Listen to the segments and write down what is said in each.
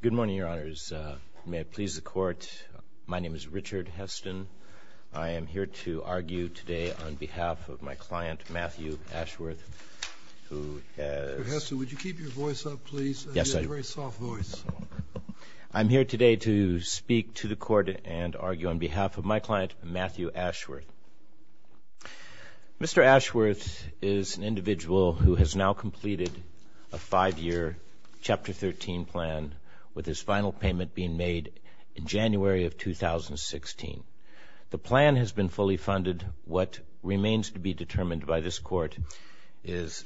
Good morning, Your Honors. May it please the Court, my name is Richard Heston. I am here to argue today on behalf of my client, Matthew Ashworth, who has… Mr. Heston, would you keep your voice up, please? Yes, sir. You have a very soft voice. I'm here today to speak to the Court and argue on behalf of my client, Matthew Ashworth. Mr. Ashworth is an individual who has now completed a five-year Chapter 13 plan, with his final payment being made in January of 2016. The plan has been fully funded. What remains to be determined by this Court is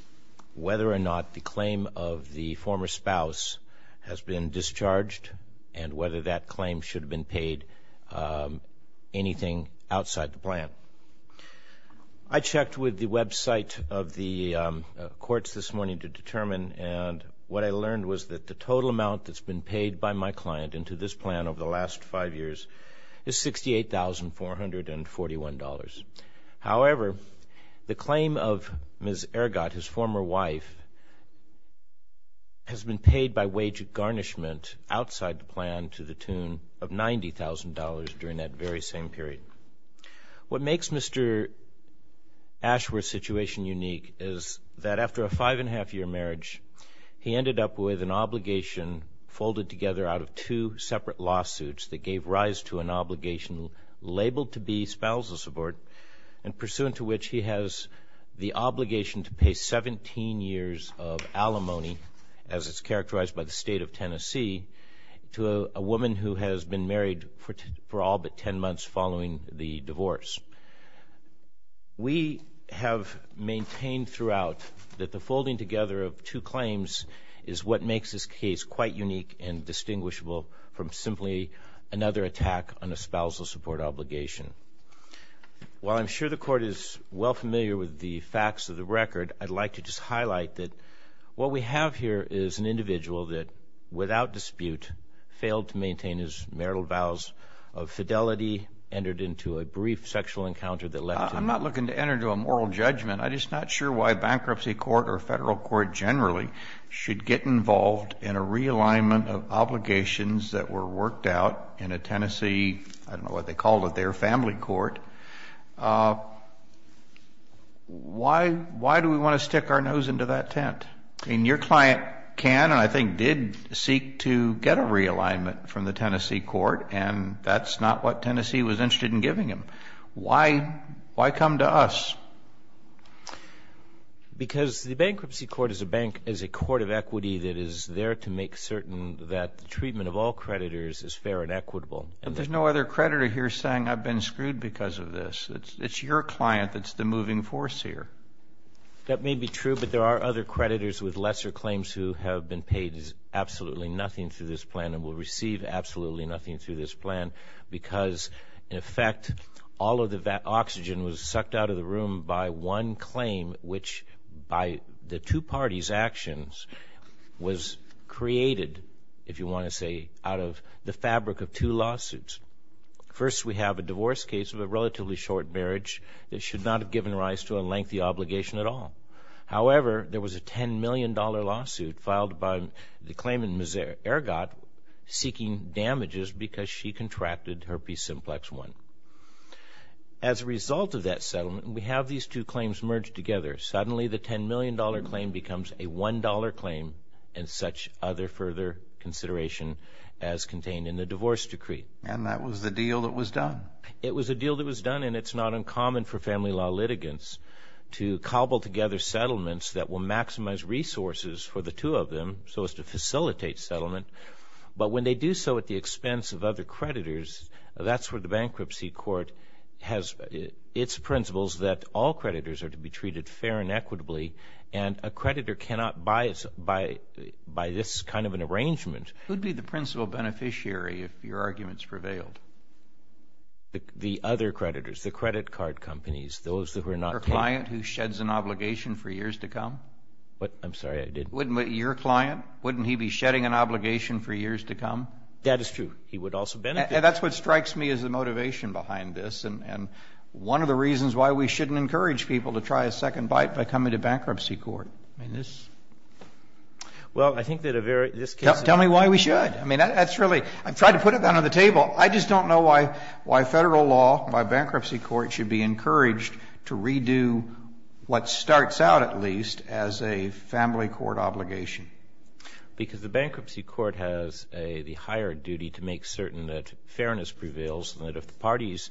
whether or not the claim of the former spouse has been paid. I checked with the website of the courts this morning to determine, and what I learned was that the total amount that's been paid by my client into this plan over the last five years is $68,441. However, the claim of Ms. Ehrgott, his former wife, has been paid by wage garnishment outside the plan to the tune of $90,000 during that very same period. What makes Mr. Ashworth's situation unique is that after a five-and-a-half-year marriage, he ended up with an obligation folded together out of two separate lawsuits that gave rise to an obligation labeled to be spousal support and pursuant to which he has the obligation to pay 17 years of alimony, as is characterized by the State of Tennessee, to a woman who has been married for all but 10 months following the divorce. We have maintained throughout that the folding together of two claims is what makes this case quite unique and distinguishable from simply another attack on a spousal support obligation. While I'm sure the Court is well familiar with the facts of the record, I'd like to just highlight that what we have here is an individual that, without dispute, failed to maintain his marital vows of fidelity, entered into a brief sexual encounter that left him... I'm not looking to enter into a moral judgment. I'm just not sure why a bankruptcy court or a federal court generally should get involved in a realignment of obligations that were worked out in a Tennessee, I don't know what they called it, their family court. Why do we want to stick our nose into that tent? I mean, your client can, and I think did, seek to get a realignment from the Tennessee court, and that's not what Tennessee was interested in giving him. Why come to us? Because the bankruptcy court is a bank, is a court of equity that is there to make certain that the treatment of all creditors is fair and equitable. But there's no other creditor here saying, I've been screwed because of this. It's your client that's the moving force here. That may be true, but there are other creditors with lesser claims who have been paid absolutely nothing through this plan and will receive absolutely nothing through this plan, because in effect, all of the oxygen was sucked out of the room by one claim, which, by the two parties' actions, was created, if you want to say, out of the fabric of two lawsuits. First, we have a divorce case of a relatively short marriage that should not have given rise to a lengthy obligation at all. However, there was a $10 million lawsuit filed by the claimant, Ms. Ergot, seeking damages because she contracted herpes simplex 1. As a result of that settlement, we have these two claims merged together. Suddenly, the $10 million claim becomes a $1 claim and such other further consideration as contained in the divorce decree. And that was the deal that was done? It was a deal that was done, and it's not uncommon for family law litigants to cobble together settlements that will maximize resources for the two of them so as to facilitate settlement. But when they do so at the expense of other creditors, that's where the Bankruptcy Court has its principles that all creditors are to be treated fair and equitably, and a creditor cannot buy this kind of an arrangement. Who would be the principal beneficiary if your arguments prevailed? The other creditors, the credit card companies, those that were not paid. Your client who sheds an obligation for years to come? I'm sorry, I didn't hear you. Your client? Wouldn't he be shedding an obligation for years to come? That is true. He would also benefit. That's what strikes me as the motivation behind this, and one of the reasons why we shouldn't encourage people to try a second bite by coming to Bankruptcy Court. Well, I think that a very, this case is... Tell me why we should. I mean, that's really, I've tried to put it down on the table. I just don't know why Federal law, by Bankruptcy Court, should be encouraged to redo what starts out at least as a family court obligation. Because the Bankruptcy Court has the higher duty to make certain that fairness prevails and that if the parties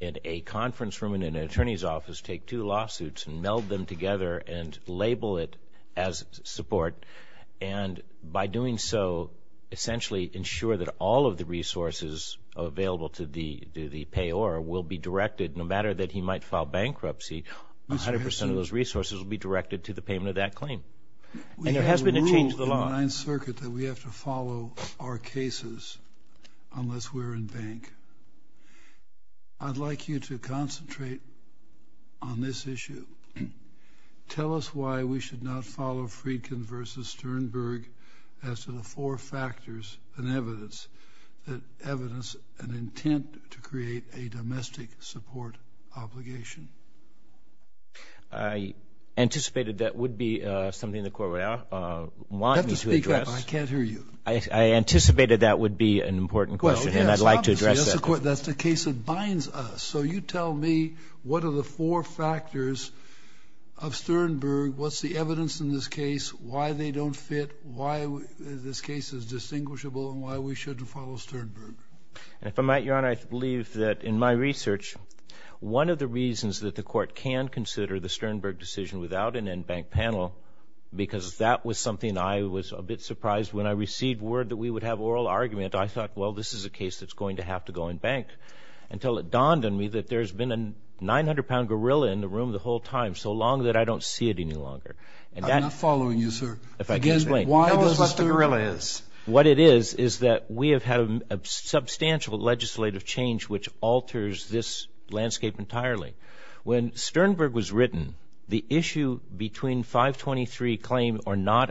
in a conference room and in an attorney's office take two lawsuits and meld them together and label it as support, and by doing so, essentially ensure that all of the resources available to the payor will be directed, no matter that he might file bankruptcy, 100% of those resources will be directed to the payment of that claim. And there has been a change in the law. We have a rule in the Ninth Circuit that we have to follow our cases unless we're in bank. I'd like you to concentrate on this issue. Tell us why we should not follow Friedkin v. Sternberg as to the four factors and evidence that evidence an intent to create a domestic support obligation. I anticipated that would be something the Court would want me to address. You have to speak up. I can't hear you. I anticipated that would be an important question and I'd like to address that. That's the case that binds us. So you tell me what are the four factors of Sternberg, what's the evidence in this case, why they don't fit, why this case is distinguishable, and why we shouldn't follow Sternberg. If I might, Your Honor, I believe that in my research, one of the reasons that the Court can consider the Sternberg decision without an end bank panel, because that was something I was a bit surprised when I received word that we would have oral argument. I thought, well, this is a case that's going to have to go in bank until it dawned on me that there's been a 900-pound gorilla in the room the whole time so long that I don't see it any longer. I'm not following you, sir. If I can explain. Tell us what the gorilla is. What it is is that we have had a substantial legislative change which alters this landscape entirely. When Sternberg was written, the issue between 523 claim or not,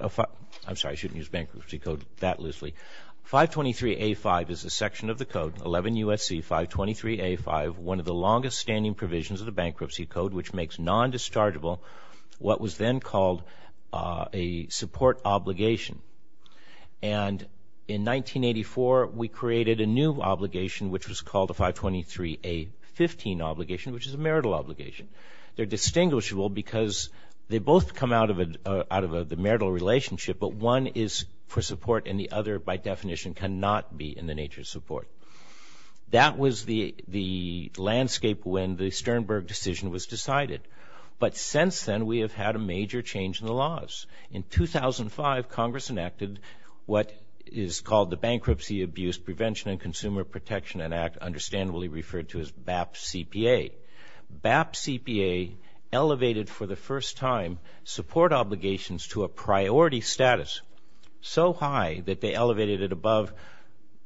I'm sorry, I shouldn't use bankruptcy code that loosely, 523A5 is a section of the code, 11 U.S.C. 523A5, one of the longest standing provisions of the bankruptcy code which makes non-dischargeable what was then called a support obligation. And in 1984, we created a new obligation which was called the 523A15 obligation, which is a marital obligation. They're distinguishable because they both come out of the marital relationship but one is for support and the other by definition cannot be in the nature of support. That was the landscape when the Sternberg decision was decided. But since then, we have had a major change in the laws. In 2005, Congress enacted what is called the Bankruptcy Abuse Prevention and Consumer Protection Act, understandably referred to as BAP CPA. BAP CPA elevated for the first time support obligations to a priority status so high that they elevated it above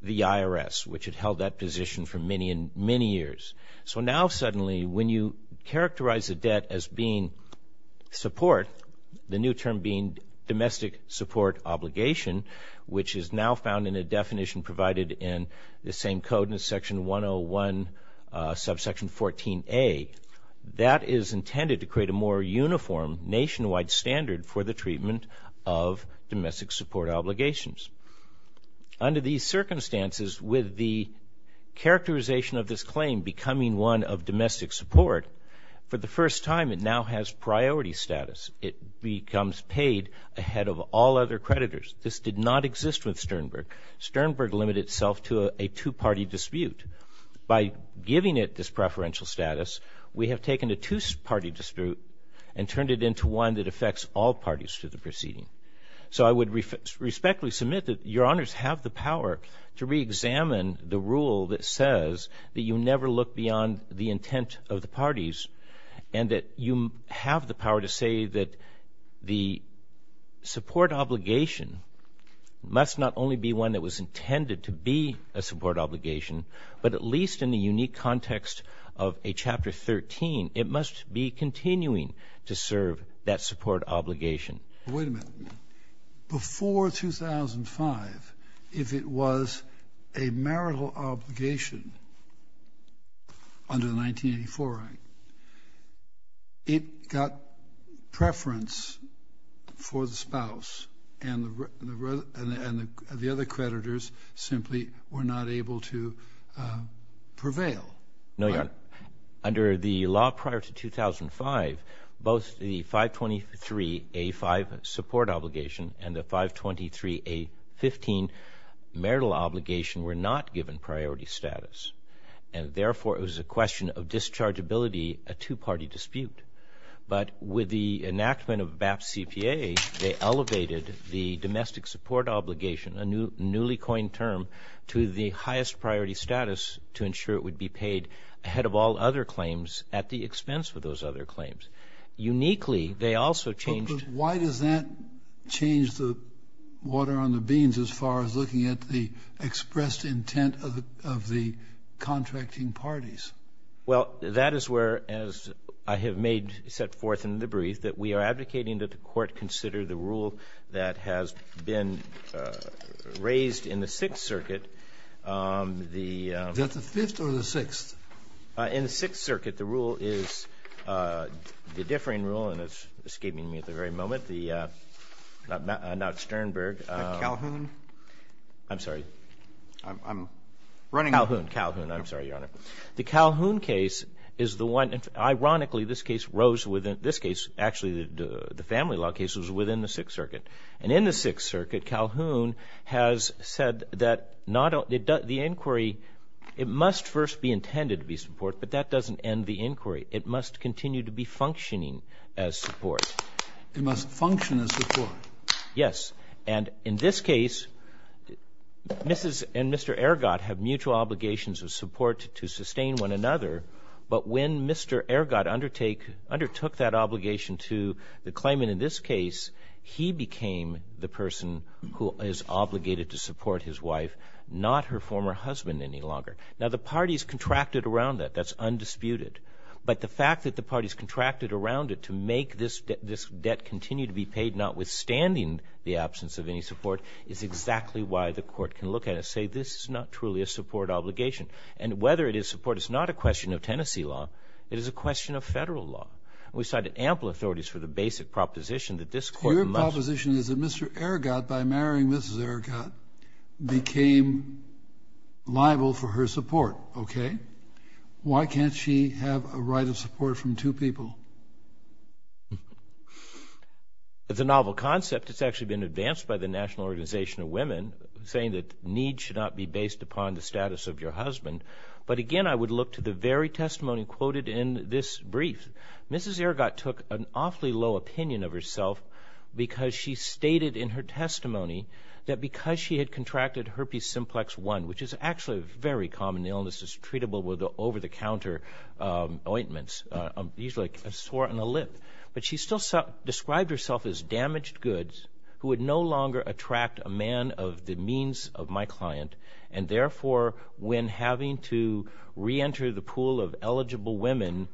the IRS which had held that position for many years. So now suddenly, when you characterize a debt as being support, the new term being domestic support obligation which is now found in a definition provided in the same code in Section 101, Subsection 14A, that is intended to create a more uniform nationwide standard for the treatment of domestic support obligations. Under these circumstances with the characterization of this claim becoming one of domestic support, for the first time, it now has priority status. It becomes paid ahead of all other creditors. This did not exist with Sternberg. Sternberg limited itself to a two-party dispute. By giving it this preferential status, we have taken a two-party dispute and turned it into one that affects all parties to the proceeding. So I would respectfully submit that Your Honors have the power to reexamine the rule that says that you never look beyond the intent of the parties and that you have the power to say that the support obligation must not only be one that was intended to be a support obligation, but at least in the unique context of a Chapter 13, it must be continuing to serve that support obligation. Wait a minute. But before 2005, if it was a marital obligation under the 1984 Act, it got preference for the spouse, and the other creditors simply were not able to prevail, right? Under the law prior to 2005, both the 523A5 support obligation and the 523A15 marital obligation were not given priority status, and therefore it was a question of dischargeability, a two-party dispute. But with the enactment of BAP CPA, they elevated the domestic support obligation, a newly coined term, to the highest priority status to ensure it would be paid ahead of all other claims at the expense of those other claims. Uniquely, they also changed the law. But why does that change the water on the beans as far as looking at the expressed intent of the contracting parties? Well, that is where, as I have made, set forth in the brief, that we are advocating that the Court consider the rule that has been raised in the Sixth Circuit. Is that the Fifth or the Sixth? In the Sixth Circuit, the rule is the differing rule, and it's escaping me at the very moment, the, not Sternberg. Calhoun? I'm sorry. I'm running off. Calhoun, Calhoun. I'm sorry, Your Honor. The Calhoun case is the one, and ironically, this case rose within, this case, actually the family law case was within the Sixth Circuit. And in the Sixth Circuit, Calhoun has said that not, the inquiry, it must first be intended to be support, but that doesn't end the inquiry. It must continue to be functioning as support. It must function as support. Yes. And in this case, Mrs. and Mr. Ergot have mutual obligations of support to sustain one another, but when Mr. Ergot undertake, undertook that obligation to the claimant in this case, he became the person who is obligated to support his wife, not her former husband any longer. Now, the parties contracted around that. That's undisputed. But the fact that the parties contracted around it to make this debt continue to be paid, notwithstanding the absence of any support, is exactly why the Court can look at it and say, this is not truly a support obligation. And whether it is support, it's not a question of Tennessee law. It is a question of federal law. We cited ample authorities for the basic proposition that this Court must- Your proposition is that Mr. Ergot, by marrying Mrs. Ergot, became liable for her support. Okay. Why can't she have a right of support from two people? It's a novel concept. It's actually been advanced by the National Organization of Women, saying that need should not be based upon the status of your husband. But again, I would look to the very testimony quoted in this brief. Mrs. Ergot took an awfully low opinion of herself because she stated in her testimony that because she had contracted herpes simplex 1, which is actually a very common illness. It's treatable with over-the-counter ointments, usually a sore on a lip. But she still described herself as damaged goods who would no longer attract a man of the means of my client. And therefore, when having to reenter the pool of eligible women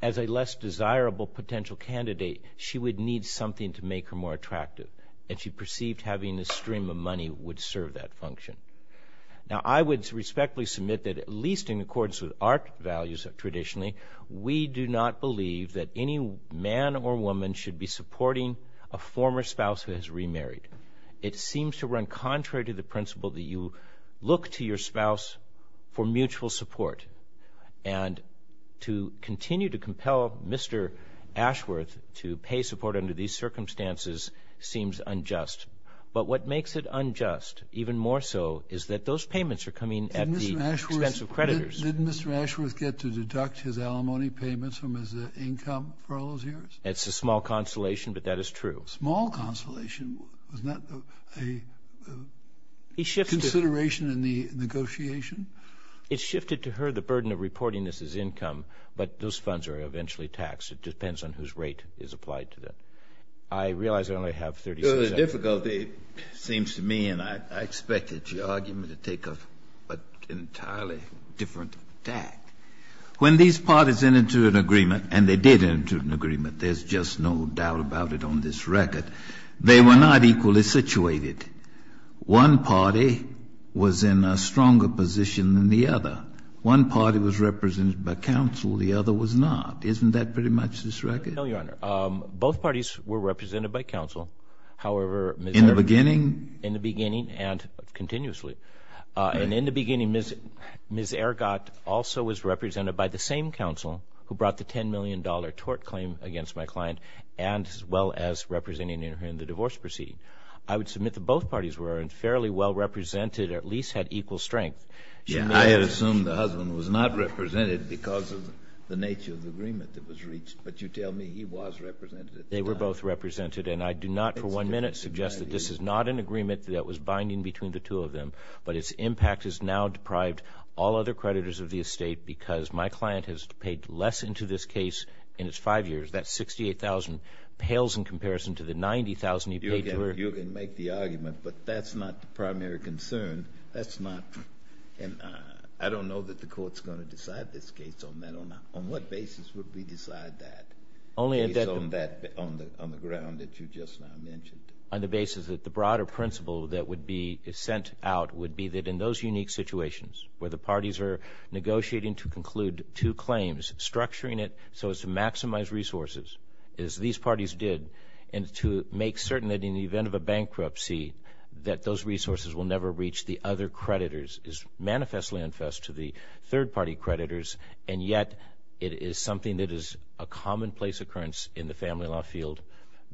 as a less desirable potential candidate, she would need something to make her more attractive. And she perceived having a stream of money would serve that function. Now I would respectfully submit that, at least in accordance with our values traditionally, we do not believe that any man or woman should be supporting a former spouse who has remarried. It seems to run contrary to the principle that you look to your spouse for mutual support. And to continue to compel Mr. Ashworth to pay support under these circumstances seems unjust. But what makes it unjust, even more so, is that those payments are coming at the expense of creditors. Did Mr. Ashworth get to deduct his alimony payments from his income for all those years? It's a small consolation, but that is true. Small consolation? Isn't that a consideration in the negotiation? It shifted to her the burden of reporting this as income, but those funds are eventually taxed. It depends on whose rate is applied to them. I realize I only have 30 seconds. The difficulty seems to me, and I expect that your argument to take an entirely different tack. When these parties enter into an agreement, and they did enter into an agreement, there's just no doubt about it on this record, they were not equally situated. One party was in a stronger position than the other. One party was represented by counsel. The other was not. Isn't that pretty much this record? No, Your Honor. Both parties were represented by counsel. However, in the beginning and continuously. And in the beginning, Ms. Ergot also was represented by the same counsel who brought the $10 million tort claim against my client, as well as representing her in the divorce proceeding. I would submit that both parties were fairly well represented, at least had equal strength. Yeah, I had assumed the husband was not represented because of the nature of the agreement that was reached. But you tell me he was represented at the time. They were both represented, and I do not for one minute suggest that this is not an agreement that was binding between the two of them. But its impact has now deprived all other creditors of the estate because my client has paid less into this case in its five years. That $68,000 pales in comparison to the $90,000 you paid to her. You can make the argument, but that's not the primary concern. That's not. And I don't know that the Court's going to decide this case on that. On what basis would we decide that? Only on that on the ground that you just now mentioned. On the basis that the broader principle that would be sent out would be that in those situations where the parties are negotiating to conclude two claims, structuring it so as to maximize resources, as these parties did, and to make certain that in the event of a bankruptcy that those resources will never reach the other creditors, is manifestly unfest to the third-party creditors. And yet it is something that is a commonplace occurrence in the family law field.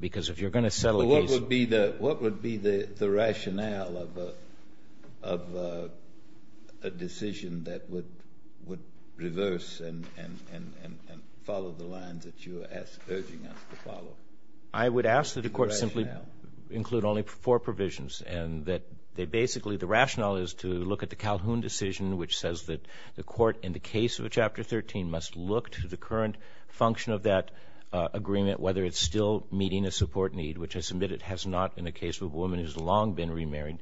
Because if you're going to settle a case— A decision that would reverse and follow the lines that you are urging us to follow. I would ask that the Court simply include only four provisions. And that they basically—the rationale is to look at the Calhoun decision, which says that the Court, in the case of Chapter 13, must look to the current function of that agreement, whether it's still meeting a support need, which I submit it has not in the case of a woman who has long been remarried.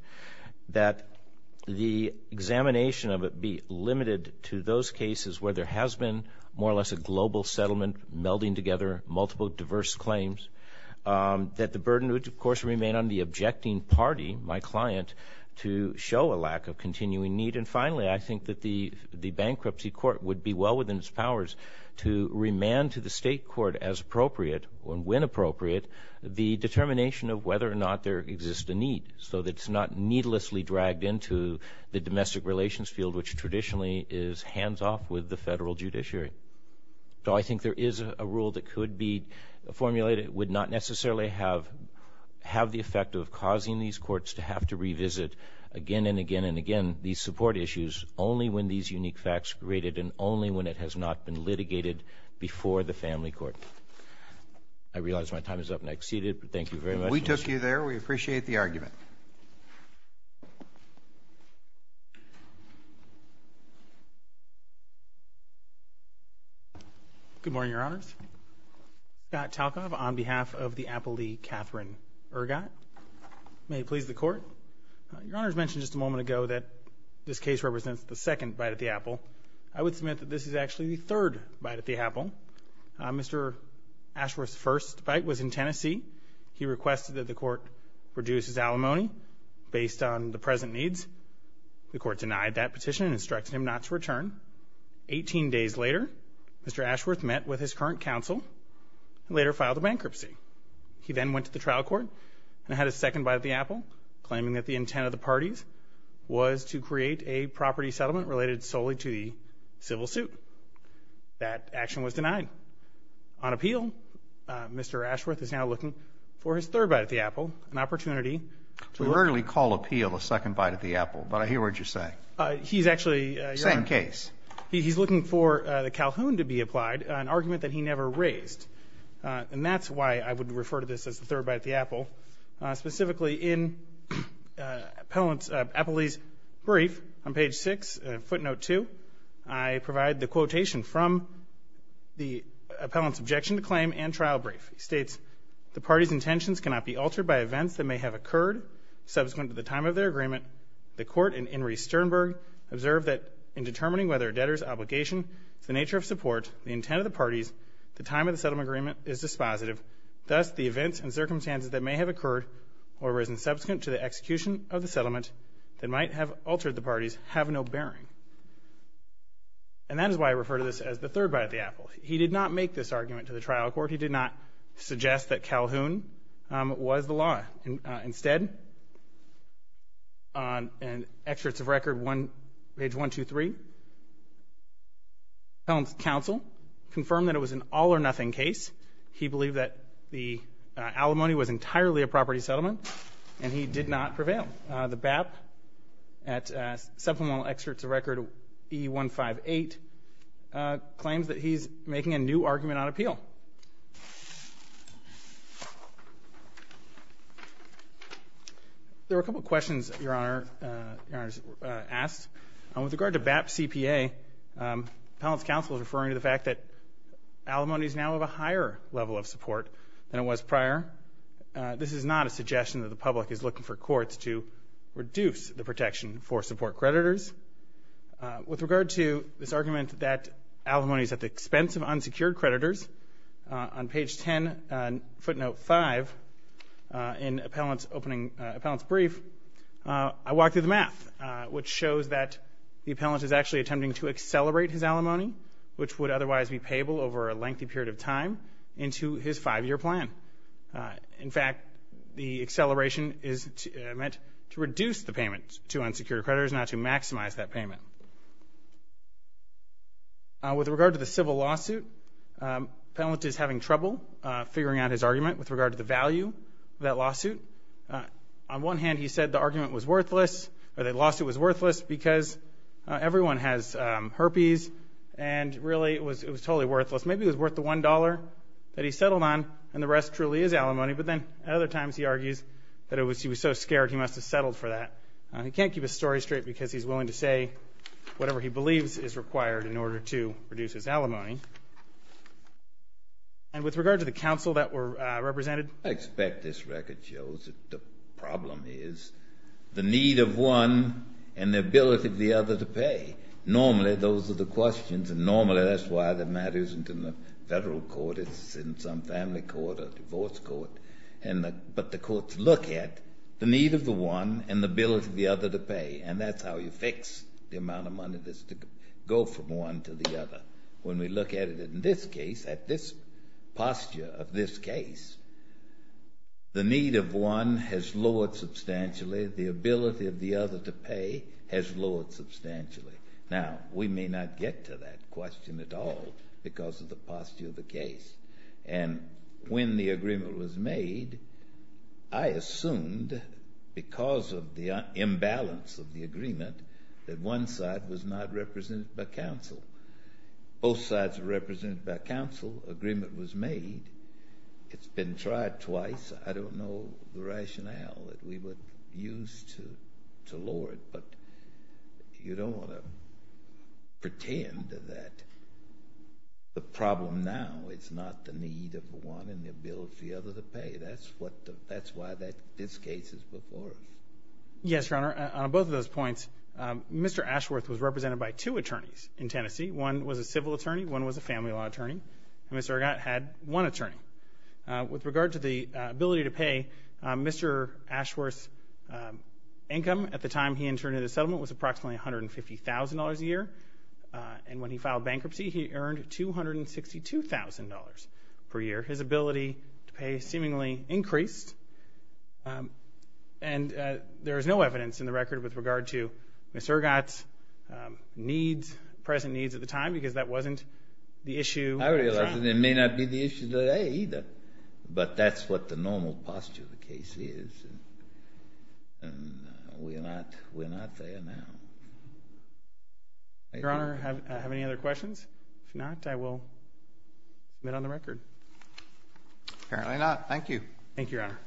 That the examination of it be limited to those cases where there has been more or less a global settlement melding together multiple diverse claims. That the burden would, of course, remain on the objecting party, my client, to show a lack of continuing need. And finally, I think that the Bankruptcy Court would be well within its powers to remand to the State Court, as appropriate, when appropriate, the determination of whether or not there exists a need. So that it's not needlessly dragged into the domestic relations field, which traditionally is hands-off with the federal judiciary. So I think there is a rule that could be formulated that would not necessarily have the effect of causing these courts to have to revisit again and again and again these support issues only when these unique facts are rated and only when it has not been litigated before the family court. I realize my time is up and I exceeded, but thank you very much. We took you there. We appreciate the argument. Good morning, Your Honors. Scott Talkov on behalf of the Appley Catherine Urgot. May it please the Court. Your Honors mentioned just a moment ago that this case represents the second bite at the apple. I would submit that this is actually the third bite at the apple. Mr. Ashworth's first bite was in Tennessee. He requested that the Court reduce his alimony based on the present needs. The Court denied that petition and instructed him not to return. Eighteen days later, Mr. Ashworth met with his current counsel and later filed a bankruptcy. He then went to the trial court and had a second bite at the apple, claiming that the intent of the parties was to create a property settlement related solely to the civil suit. That action was denied. On appeal, Mr. Ashworth is now looking for his third bite at the apple, an opportunity to- We rarely call appeal a second bite at the apple, but I hear what you're saying. He's actually- Same case. He's looking for the Calhoun to be applied, an argument that he never raised. And that's why I would refer to this as the third bite at the apple. Specifically, in Appellee's brief on page 6, footnote 2, I provide the quotation from the appellant's objection to claim and trial brief. It states, the party's intentions cannot be altered by events that may have occurred subsequent to the time of their agreement. The Court and Inres Sternberg observed that in determining whether a debtor's obligation is the nature of support, the intent of the parties, the time of the settlement agreement is dispositive. Thus, the events and circumstances that may have occurred or risen subsequent to the execution of the settlement that might have altered the parties have no bearing. And that is why I refer to this as the third bite at the apple. He did not make this argument to the trial court. He did not suggest that Calhoun was the law. Instead, in Excerpts of Record page 123, Appellant's counsel confirmed that it was an all-or-nothing case. He believed that the alimony was entirely a property settlement, and he did not prevail. The BAP at Supplemental Excerpts of Record E158 claims that he's making a new argument on appeal. There were a couple of questions, Your Honor, asked. With regard to BAP CPA, Appellant's counsel is referring to the fact that alimony is now of a higher level of support than it was prior. This is not a suggestion that the public is looking for courts to reduce the protection for support creditors. With regard to this argument that alimony is at the expense of unsecured creditors, on page 10, footnote 5, in Appellant's brief, I walked through the math, which shows that the appellant is actually attempting to accelerate his alimony, which would otherwise be payable over a lengthy period of time, into his five-year plan. In fact, the acceleration is meant to reduce the payment to unsecured creditors, not to maximize that payment. With regard to the civil lawsuit, Appellant is having trouble figuring out his argument with regard to the value of that lawsuit. On one hand, he said the argument was worthless, or the lawsuit was worthless, because everyone has herpes, and really it was totally worthless. Maybe it was worth the $1 that he settled on, and the rest truly is alimony, but then at other times he argues that he was so scared he must have settled for that. He can't keep his story straight because he's willing to say whatever he believes is required in order to reduce his alimony. And with regard to the counsel that were represented? I expect this record shows that the problem is the need of one and the ability of the other to pay. Normally, those are the questions, and normally that's why the matter isn't in the Federal court, it's in some family court or divorce court. But the courts look at the need of the one and the ability of the other to pay, and that's how you fix the amount of money that's to go from one to the other. When we look at it in this case, at this posture of this case, the need of one has lowered substantially, the ability of the other to pay has lowered substantially. Now, we may not get to that question at all because of the posture of the case. And when the agreement was made, I assumed because of the imbalance of the agreement that one side was not represented by counsel. Both sides were represented by counsel, agreement was made. It's been tried twice. I don't know the rationale that we would use to lower it, but you don't want to pretend that the problem now is not the need of the one and the ability of the other to pay. That's why this case is before us. Yes, Your Honor, on both of those points, Mr. Ashworth was represented by two attorneys in Tennessee. One was a civil attorney, one was a family law attorney, and Mr. Argot had one attorney. With regard to the ability to pay, Mr. Ashworth's income at the time he interned in the settlement was approximately $150,000 a year. And when he filed bankruptcy, he earned $262,000 per year. His ability to pay seemingly increased. And there is no evidence in the record with regard to Mr. Argot's needs, present needs at the time, because that wasn't the issue. I realize it may not be the issue today either, but that's what the normal posture of the case is. And we're not there now. Your Honor, do I have any other questions? If not, I will admit on the record. Apparently not. Thank you. Thank you, Your Honor.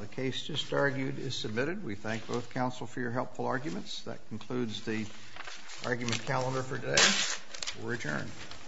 The case just argued is submitted. We thank both counsel for your helpful arguments. That concludes the argument calendar for today. We're adjourned.